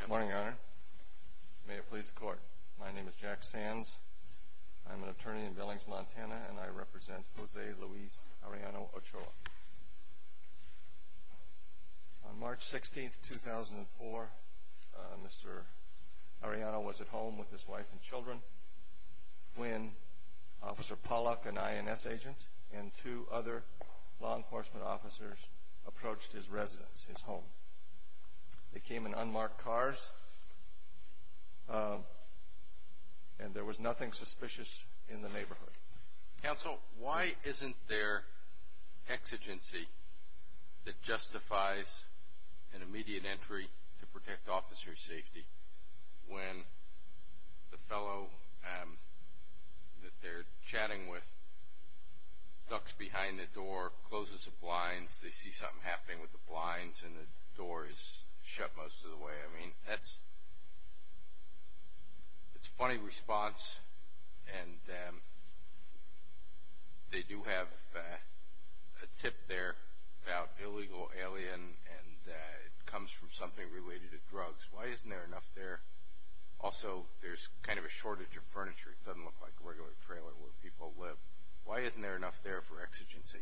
Good morning, Your Honor. May it please the Court, my name is Jack Sands. I'm an attorney in Billings, Montana, and I represent Jose Luis Arellano-Ochoa. On March 16, 2004, Mr. Arellano was at home with his wife and children when Officer Pollack, an INS agent, and two other law enforcement officers approached his residence, his home. They came in unmarked cars, and there was nothing suspicious in the neighborhood. Counsel, why isn't there exigency that justifies an immediate entry to protect officers' safety when the fellow that they're chatting with ducks behind the door, closes the blinds, they see something happening with the blinds, and the door is shut most of the way. I mean, that's a funny response, and they do have a tip there about illegal alien, and it comes from something related to drugs. Why isn't there enough there? Also, there's kind of a shortage of furniture. It doesn't look like a regular trailer where people live. Why isn't there enough there for exigency?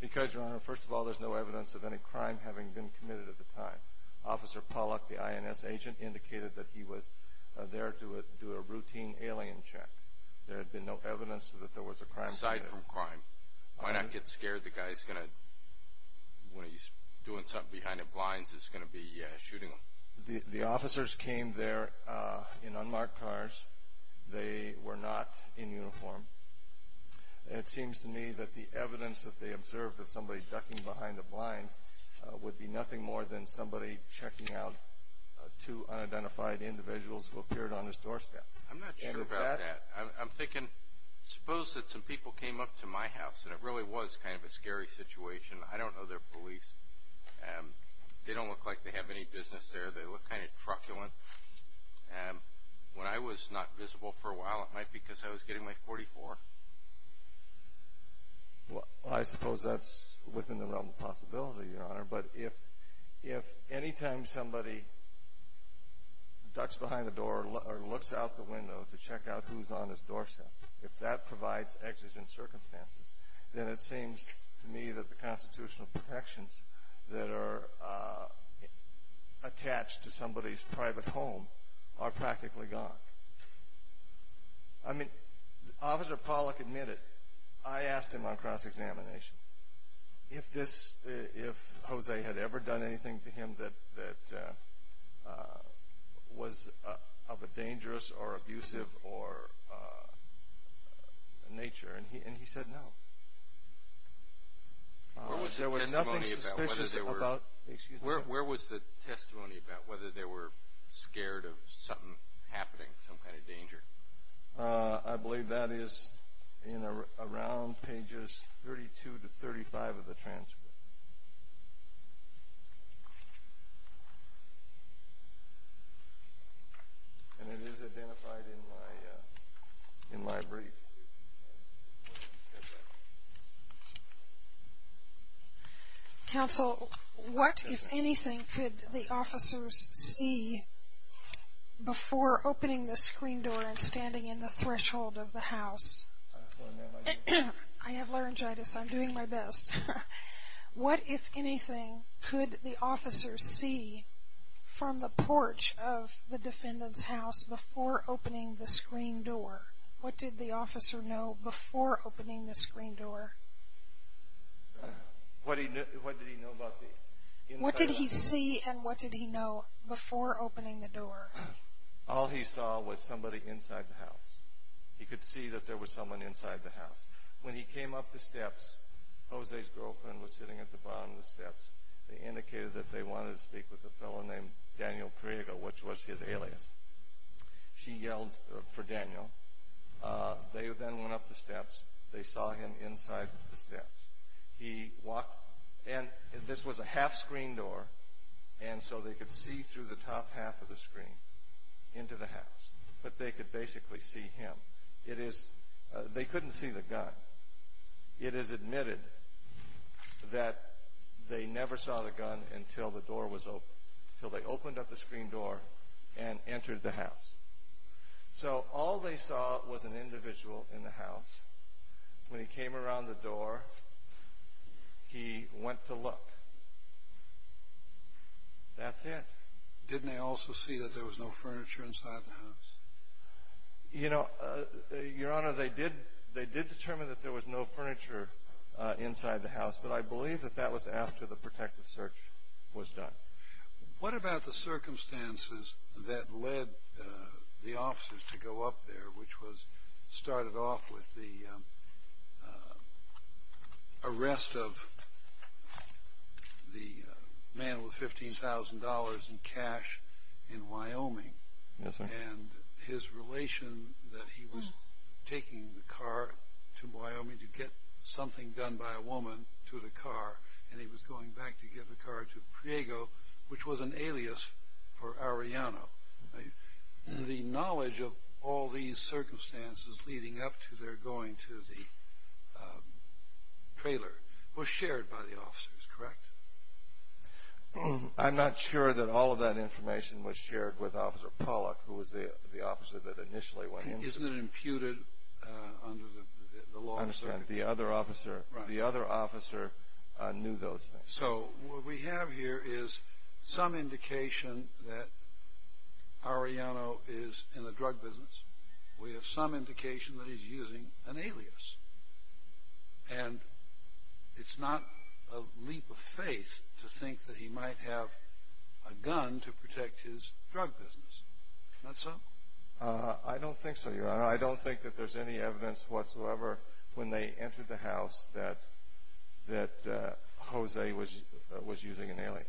Because, Your Honor, first of all, there's no evidence of any crime having been committed at the time. Officer Pollack, the INS agent, indicated that he was there to do a routine alien check. There had been no evidence that there was a crime committed. Aside from crime, why not get scared the guy's going to, when he's doing something behind the blinds, is going to be shooting him? The officers came there in unmarked cars. They were not in uniform. It seems to me that the evidence that they observed of somebody ducking behind the blinds would be nothing more than somebody checking out two unidentified individuals who appeared on his doorstep. I'm not sure about that. I'm thinking, suppose that some people came up to my house, and it really was kind of a scary situation. I mean, they don't look like they have any business there. They look kind of truculent. When I was not visible for a while, it might be because I was getting my 44. Well, I suppose that's within the realm of possibility, Your Honor, but if any time somebody ducks behind the door or looks out the window to check out who's on his doorstep, if that provides exigent circumstances, then it seems to me that the constitutional protections that are attached to somebody's private home are practically gone. I mean, Officer Pollack admitted, I asked him on cross-examination if this, if Jose had ever done anything to him that was of a dangerous or abusive nature, and he said no. Where was the testimony about whether they were scared of something happening, some kind of danger? I believe that is around pages 32 to 35 of the transcript. And it is identified in my brief. Counsel, what, if anything, could the officers see before opening the screen door and standing in the threshold of the house? I have laryngitis. I'm doing my best. What, if anything, could the officers see from the porch of the defendant's house before opening the screen door? What did the officer know before opening the screen door? What did he see and what did he know before opening the door? All he saw was somebody inside the house. He could see that there was someone inside the house. When he came up the steps, Jose's girlfriend was sitting at the bottom of the steps. They indicated that they wanted to speak with a fellow named Daniel Priego, which was his alias. She yelled for Daniel. They then went up the steps. They saw him He walked, and this was a half-screen door, and so they could see through the top half of the screen into the house. But they could basically see him. It is, they couldn't see the gun. It is admitted that they never saw the gun until the door was opened, until they opened up the screen door and entered the house. So all they saw was an individual in the house. When he came around the door, he went to look. That's it. Didn't they also see that there was no furniture inside the house? You know, Your Honor, they did determine that there was no furniture inside the house, but I believe that that was after the protective search was done. What about the circumstances that led the officers to go up there, which was started off with the arrest of the man with $15,000 in cash in Wyoming? Yes, sir. And his relation that he was taking the car to Wyoming to get something done by a woman to the car, and he was going back to get the car to Priego, which was an alias for Arellano. The knowledge of all these circumstances leading up to their going to the trailer was shared by the officers, correct? I'm not sure that all of that information was imputed under the law. I understand. The other officer knew those things. So what we have here is some indication that Arellano is in the drug business. We have some indication that he's using an alias. And it's not a leap of faith to think that he might have a gun to protect his drug business. Not so? I don't think so, Your Honor. I don't think that there's any evidence whatsoever when they entered the house that Jose was using an alias.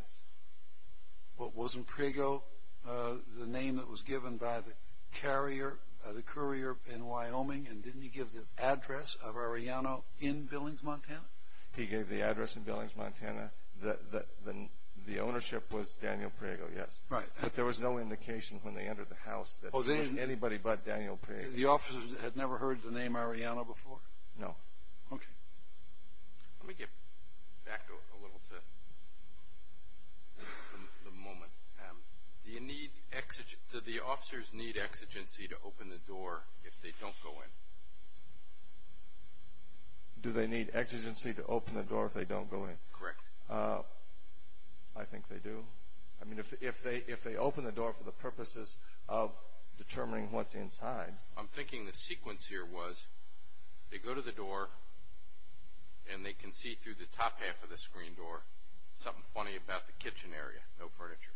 But wasn't Priego the name that was given by the courier in Wyoming, and didn't he give the address of Arellano in Billings, Montana? He gave the address in Billings, Montana. The ownership was Daniel Priego, yes. Right. But there was no indication when they entered the house that it was anybody but Daniel Priego. The officers had never heard the name Arellano before? No. Okay. Let me get back a little to the moment. Do the officers need exigency to open the door if they don't go in? Do they need exigency to open the door if they don't go in? Correct. I think they do. I mean, if they open the door for the purposes of determining what's inside. I'm thinking the sequence here was they go to the door, and they can see through the top half of the screen door something funny about the kitchen area. No furniture.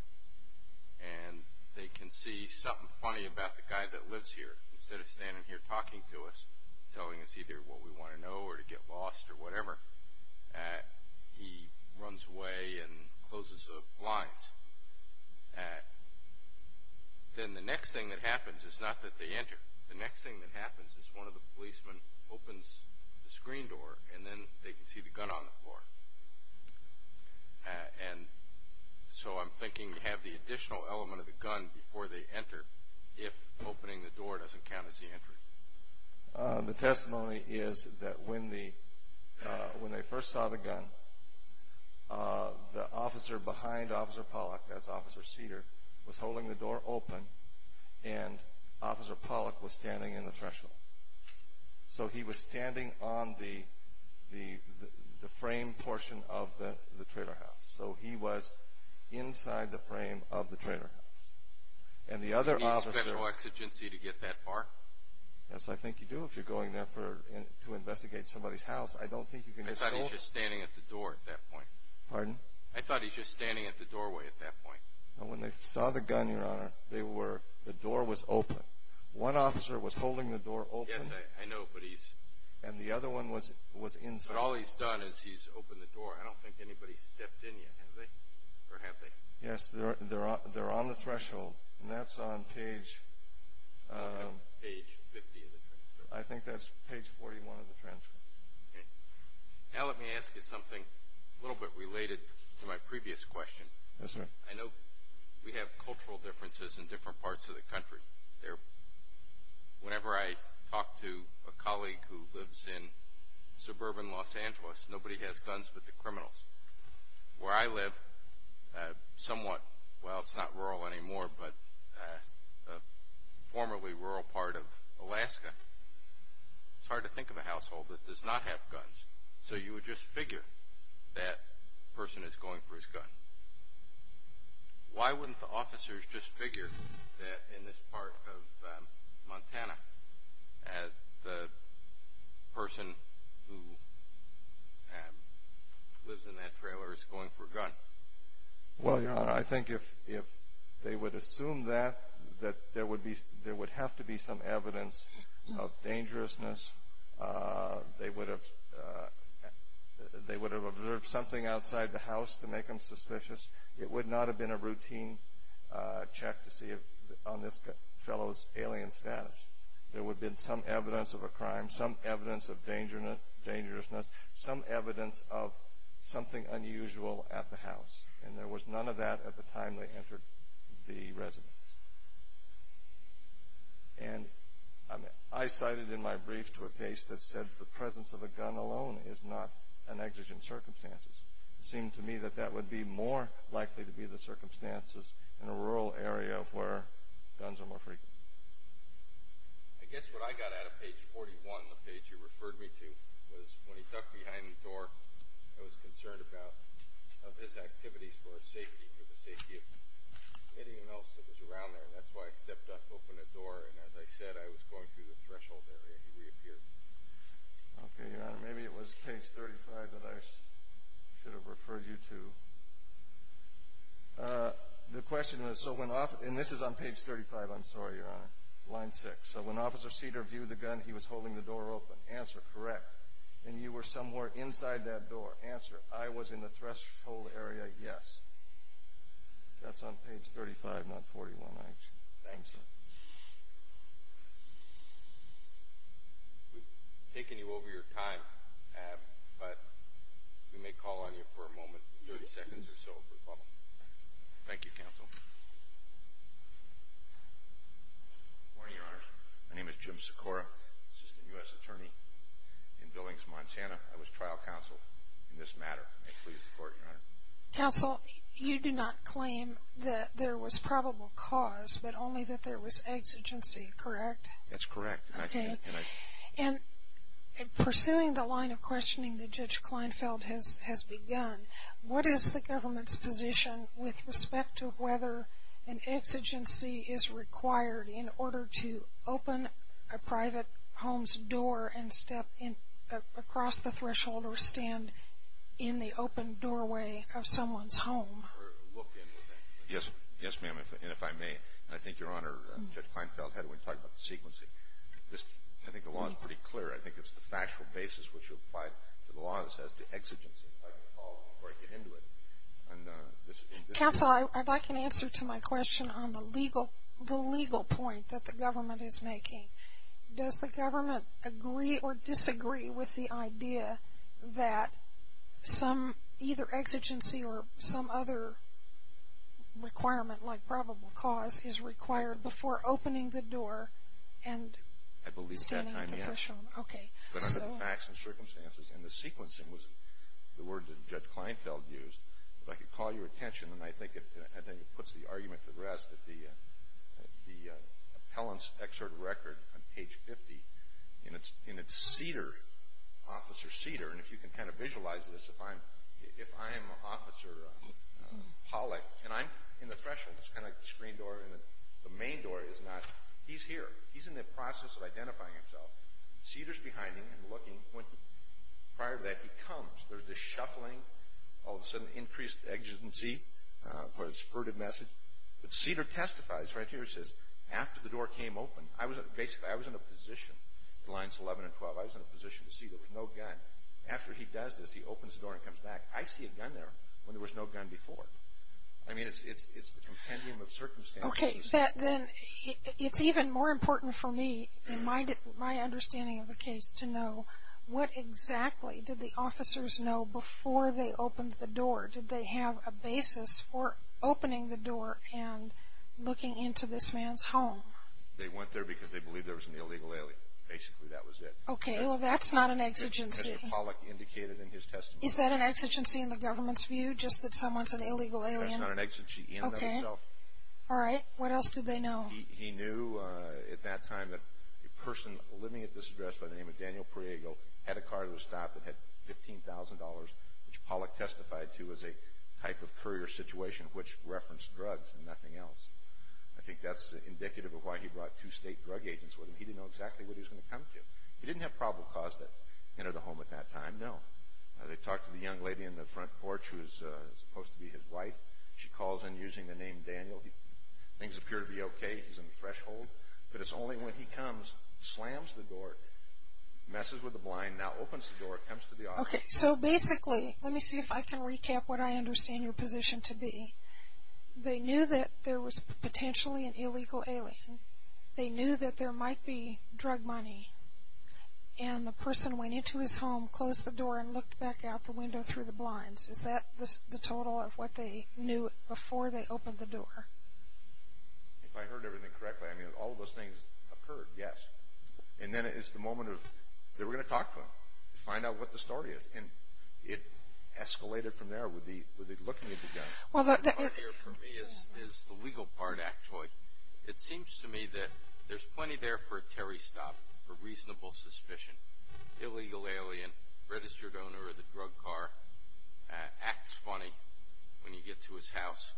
And they can see something funny about the guy that lives here. Instead of standing here talking to us, telling us either what we want to know or to get lost or whatever, he runs away and closes the blinds. Then the next thing that happens is not that they enter. The next thing that happens is one of the policemen opens the screen door, and then they can see the gun on the floor. And so I'm thinking you have the additional element of the gun before they enter if opening the door doesn't count as the entry. The testimony is that when they first saw the gun, the officer behind Officer Pollack, that's Officer Cedar, was holding the door open, and Officer Pollack was standing in the threshold. So he was standing on the frame portion of the trailer house. So he was inside the frame of the trailer house. Do you need special exigency to get that far? Yes, I think you do if you're going there to investigate somebody's house. I thought he was just standing at the doorway at that point. When they saw the gun, Your Honor, the door was open. One officer was holding the door open, and the other one was inside. But all he's done is he's opened the door. I don't think anybody's stepped in yet, have they? Yes, they're on the threshold, and that's on page... Page 50 of the transcript. I think that's page 41 of the transcript. Okay. Now let me ask you something a little bit related to my previous question. Yes, sir. I know we have cultural differences in different parts of the country. Whenever I talk to a colleague who lives in suburban Los Angeles, nobody has guns but the criminals. Where I live, somewhat, well, it's not rural anymore, but a formerly rural part of Alaska, it's hard to think of a household that does not have guns. So you would just figure that person is going for his gun. Why wouldn't the officers just figure that in this part of Montana, the person who lives in that trailer is going for a gun? Well, Your Honor, I think if they would assume that, there would have to be some evidence of dangerousness. They would have observed something outside the house to make them suspicious. It would not have been a routine check to see on this fellow's alien status. There would have been some evidence of a crime, some evidence of dangerousness, some evidence of something unusual at the house, and there was none of that at the time they entered the residence. And I cited in my brief to a case that said the presence of a gun alone is not an exigent circumstance. It seemed to me that that would be more likely to be the circumstances in a rural area where guns are more frequent. I guess what I got out of page 41, the page you referred me to, was when he tucked behind the door, I was concerned about, of his activities for the safety of anyone else that was around there, and that's why I stepped up, opened the door, and as I said, I was going through the threshold area, and he reappeared. Okay, Your Honor, maybe it was page 35 that I should have referred you to. The question is, and this is on page 35, I'm sorry, Your Honor, line 6. So when Officer Cedar viewed the gun, he was holding the door open. Answer, correct. And you were somewhere inside that door. Answer, I was in the threshold area, yes. That's on page 35, not 41, actually. Thanks, sir. We've taken you over your time, but we may call on you for a moment, 30 seconds or so. Thank you, counsel. Good morning, Your Honor. My name is Jim Secora, assistant U.S. attorney in Billings, Montana. I was trial counsel in this matter. May it please the Court, Your Honor. Counsel, you do not claim that there was probable cause, but only that there was exigency, correct? That's correct. Okay. And pursuing the line of questioning that Judge Kleinfeld has begun, what is the government's position with respect to whether an exigency is required in order to open a private home's door and step across the threshold or stand in the open doorway of someone's home? Yes, ma'am, and if I may. I think Your Honor, Judge Kleinfeld had a way to talk about the sequency. I think the law is pretty clear. I think it's the factual basis which applies to the law that says the exigency, if I can follow, before I get into it. Counsel, if I can answer to my question on the legal point that the government is making. Does the government agree or disagree with the idea that some either exigency or some other requirement like probable cause is required before opening the door I believe at that time, yes. Okay. But under the facts and circumstances and the sequencing was the word that Judge Kleinfeld used, if I could call your attention and I think it puts the argument to rest at the appellant's excerpt record on page 50, and it's Cedar, Officer Cedar. And if you can kind of visualize this, if I'm Officer Pollack and I'm in the threshold, it's kind of like the screen door and the main door is not. He's here. He's in the process of identifying himself. Cedar's behind him and looking. Prior to that, he comes. There's this shuffling. All of a sudden, increased exigency, but it's a furtive message. But Cedar testifies right here. He says, after the door came open, I was in a position, lines 11 and 12, I was in a position to see there was no gun. After he does this, he opens the door and comes back. I see a gun there when there was no gun before. I mean, it's the compendium of circumstances. Okay. But then it's even more important for me in my understanding of the case to know what exactly did the officers know before they opened the door. Did they have a basis for opening the door and looking into this man's home? They went there because they believed there was an illegal alien. Basically, that was it. Okay. Well, that's not an exigency. Which Cedar Pollack indicated in his testimony. Is that an exigency in the government's view, just that someone's an illegal alien? That's not an exigency in and of itself. Okay. All right. What else did they know? He knew at that time that a person living at this address by the name of Daniel Priego had a car that was stopped that had $15,000, which Pollack testified to as a type of courier situation, which referenced drugs and nothing else. I think that's indicative of why he brought two state drug agents with him. He didn't know exactly what he was going to come to. He didn't have probable cause to enter the home at that time, no. They talked to the young lady in the front porch who is supposed to be his wife. She calls in using the name Daniel. Things appear to be okay. He's in the threshold. But it's only when he comes, slams the door, messes with the blind, now opens the door, comes to the office. Okay. So basically, let me see if I can recap what I understand your position to be. They knew that there was potentially an illegal alien. They knew that there might be drug money, and the person went into his home, closed the door, and looked back out the window through the blinds. Is that the total of what they knew before they opened the door? If I heard everything correctly, I mean, all of those things occurred, yes. And then it's the moment of they were going to talk to him, find out what the story is. And it escalated from there with the looking at the gun. Well, the part here for me is the legal part, actually. It seems to me that there's plenty there for a Terry stop, for reasonable suspicion. Illegal alien, registered owner of the drug car, acts funny when you get to his house,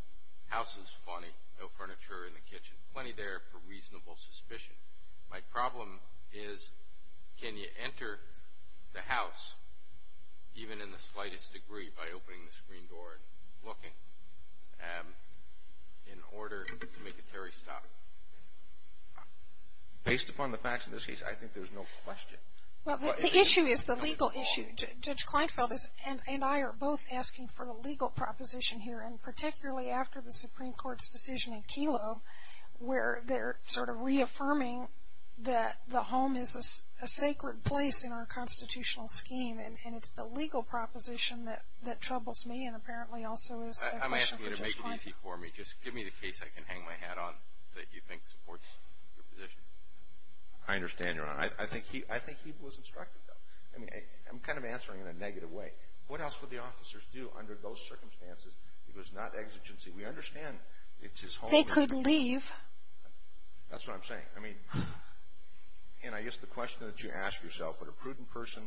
houses funny, no furniture in the kitchen. Plenty there for reasonable suspicion. My problem is can you enter the house, even in the slightest degree, by opening the screen door and looking, in order to make a Terry stop? Based upon the facts in this case, I think there's no question. Well, the issue is the legal issue. Judge Kleinfeld and I are both asking for the legal proposition here, and particularly after the Supreme Court's decision in Kelo, where they're sort of reaffirming that the home is a sacred place in our constitutional scheme. And it's the legal proposition that troubles me and apparently also is the question for Judge Kleinfeld. I'm asking you to make it easy for me. Just give me the case I can hang my hat on that you think supports your position. I understand, Your Honor. I think he was instructed, though. I mean, I'm kind of answering in a negative way. What else would the officers do under those circumstances? It was not exigency. We understand it's his home. They could leave. That's what I'm saying. I mean, and I guess the question that you ask yourself, would a prudent person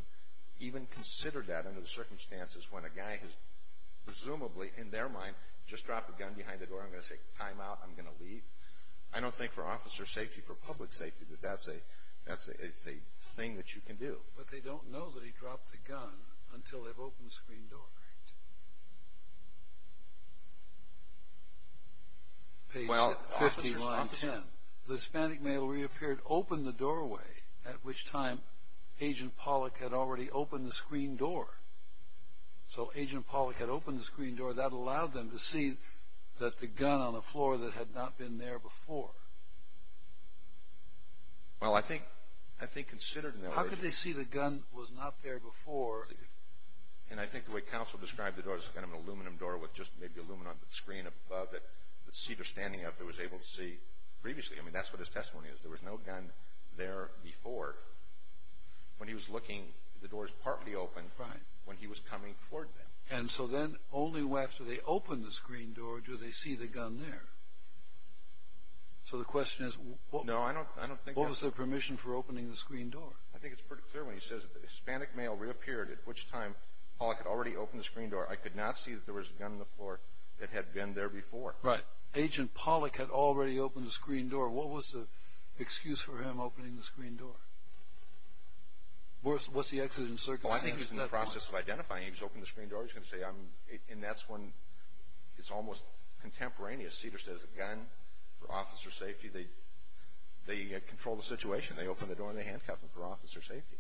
even consider that under the circumstances, when a guy has presumably, in their mind, just dropped a gun behind the door. I'm going to say, time out. I'm going to leave. I don't think for officer safety, for public safety, that that's a thing that you can do. But they don't know that he dropped the gun until they've opened the screen door. Page 50, line 10. The Hispanic male reappeared, opened the doorway, at which time Agent Pollack had already opened the screen door. So Agent Pollack had opened the screen door. That allowed them to see that the gun on the floor that had not been there before. Well, I think considered in that way. How could they see the gun was not there before? And I think the way counsel described the door, it's kind of an aluminum door with just maybe aluminum on the screen above it, that Cedar standing up there was able to see previously. I mean, that's what his testimony is. There was no gun there before. When he was looking, the doors partly opened when he was coming toward them. And so then only after they opened the screen door do they see the gun there. So the question is, what was their permission for opening the screen door? I think it's pretty clear when he says the Hispanic male reappeared, at which time Pollack had already opened the screen door. I could not see that there was a gun on the floor that had been there before. Right. Agent Pollack had already opened the screen door. What was the excuse for him opening the screen door? What's the exodus in circumstance? Well, I think he's in the process of identifying. He's opened the screen door. He's going to say, and that's when it's almost contemporaneous. Cedar says a gun for officer safety. They control the situation. They open the door and they handcuff him for officer safety.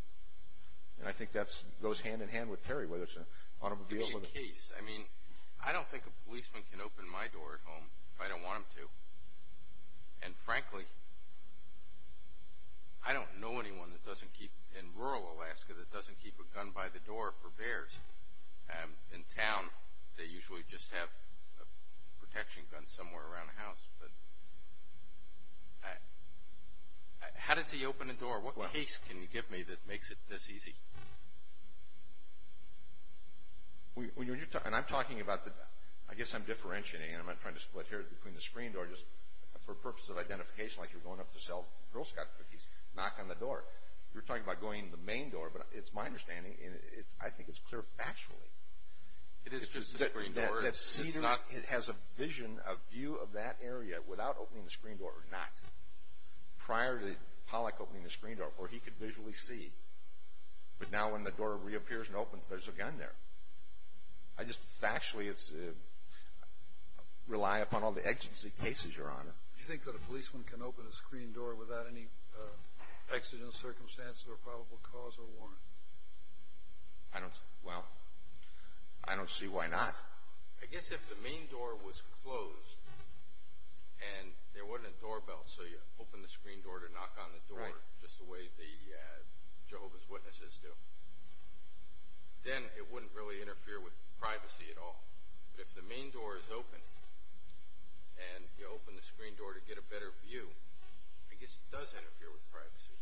And I think that goes hand-in-hand with Perry, whether it's an automobile. It's a case. I mean, I don't think a policeman can open my door at home if I don't want him to. And, frankly, I don't know anyone in rural Alaska that doesn't keep a gun by the door for bears. In town, they usually just have a protection gun somewhere around the house. How does he open a door? What case can you give me that makes it this easy? And I'm talking about the – I guess I'm differentiating. I'm not trying to split hairs between the screen door. Just for purposes of identification, like you're going up to sell Girl Scout cookies, knock on the door. You're talking about going to the main door, but it's my understanding, and I think it's clear factually. It is just a screen door. That Cedar has a vision, a view of that area, without opening the screen door or not, prior to Pollack opening the screen door, where he could visually see. But now when the door reappears and opens, there's a gun there. I just factually rely upon all the exigency cases, Your Honor. Do you think that a policeman can open a screen door without any accidental circumstances or probable cause or warrant? I don't – well, I don't see why not. I guess if the main door was closed and there wasn't a doorbell, so you open the screen door to knock on the door just the way the Jehovah's Witnesses do, then it wouldn't really interfere with privacy at all. But if the main door is open and you open the screen door to get a better view, I guess it does interfere with privacy.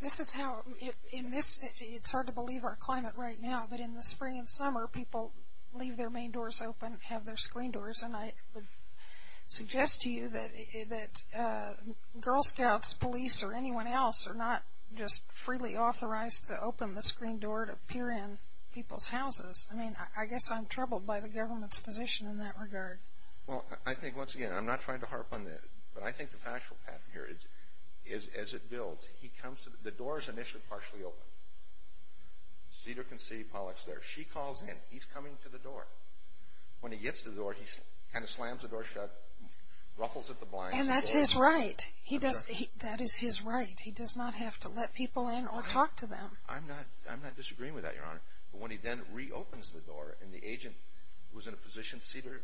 This is how – in this – it's hard to believe our climate right now, but in the spring and summer, people leave their main doors open, have their screen doors, and I would suggest to you that Girl Scouts, police, or anyone else are not just freely authorized to open the screen door to peer in people's houses. I mean, I guess I'm troubled by the government's position in that regard. Well, I think, once again, I'm not trying to harp on this, but I think the factual pattern here is, as it builds, he comes to – the door is initially partially open. Cedar can see Pollack's there. She calls in. He's coming to the door. When he gets to the door, he kind of slams the door shut, ruffles at the blinds. And that's his right. He does – that is his right. He does not have to let people in or talk to them. I'm not – I'm not disagreeing with that, Your Honor. But when he then reopens the door and the agent was in a position – Cedar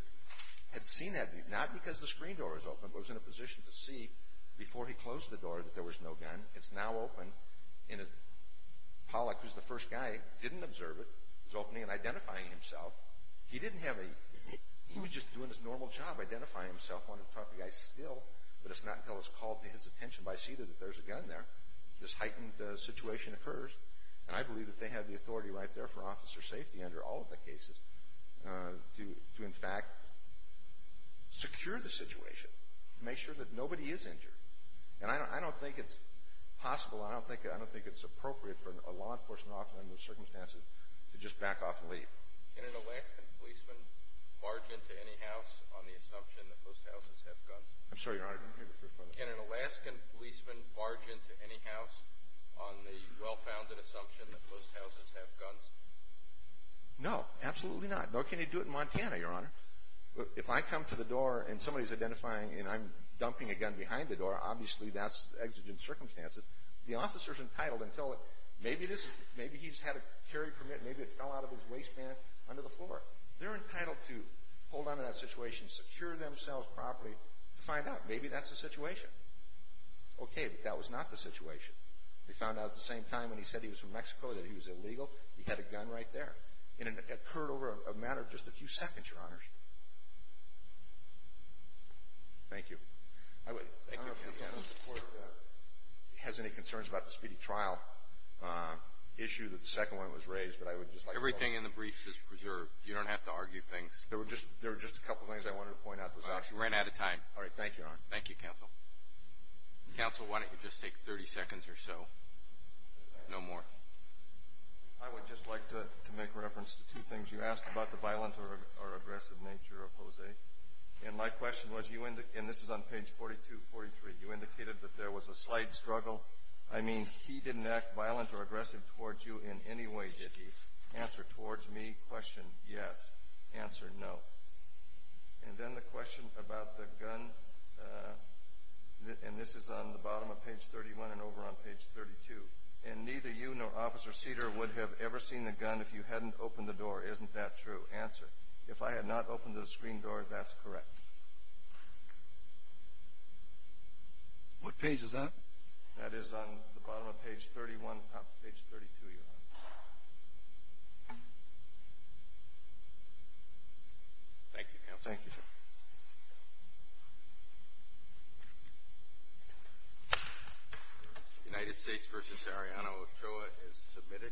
had seen that view, not because the screen door was open, but was in a position to see before he closed the door that there was no gun. It's now open. Pollack, who's the first guy, didn't observe it. He's opening and identifying himself. He didn't have a – he was just doing his normal job, identifying himself. Wanted to talk to the guy still, but it's not until it's called to his attention by Cedar that there's a gun there. This heightened situation occurs, and I believe that they have the authority right there for officer safety under all of the cases to, in fact, secure the situation, make sure that nobody is injured. And I don't think it's possible – I don't think it's appropriate for a law enforcement officer under those circumstances to just back off and leave. Can an Alaskan policeman barge into any house on the assumption that most houses have guns? I'm sorry, Your Honor. Can an Alaskan policeman barge into any house on the well-founded assumption that most houses have guns? No, absolutely not. Nor can you do it in Montana, Your Honor. If I come to the door and somebody's identifying and I'm dumping a gun behind the door, obviously that's exigent circumstances. The officer's entitled until it – maybe he's had a carry permit, maybe it fell out of his waistband under the floor. They're entitled to hold on to that situation, secure themselves properly, to find out. Maybe that's the situation. Okay, but that was not the situation. They found out at the same time when he said he was from Mexico that he was illegal. He had a gun right there. And it occurred over a matter of just a few seconds, Your Honors. Thank you. I don't know if the court has any concerns about the speedy trial issue, the second one was raised, but I would just like to – Everything in the briefs is preserved. You don't have to argue things. There were just a couple things I wanted to point out. Well, you ran out of time. All right. Thank you, Your Honor. Thank you, Counsel. Counsel, why don't you just take 30 seconds or so. No more. I would just like to make reference to two things you asked about the violent or aggressive nature of Jose. And my question was, and this is on page 42, 43, you indicated that there was a slight struggle. I mean, he didn't act violent or aggressive towards you in any way, did he? Answer, towards me, question, yes. Answer, no. And then the question about the gun, and this is on the bottom of page 31 and over on page 32. And neither you nor Officer Cedar would have ever seen the gun if you hadn't opened the door. Isn't that true? Answer, if I had not opened the screen door, that's correct. What page is that? That is on the bottom of page 31, top of page 32, Your Honor. Thank you, Counsel. Thank you, sir. Thank you. United States v. Ariana Ochoa is submitted.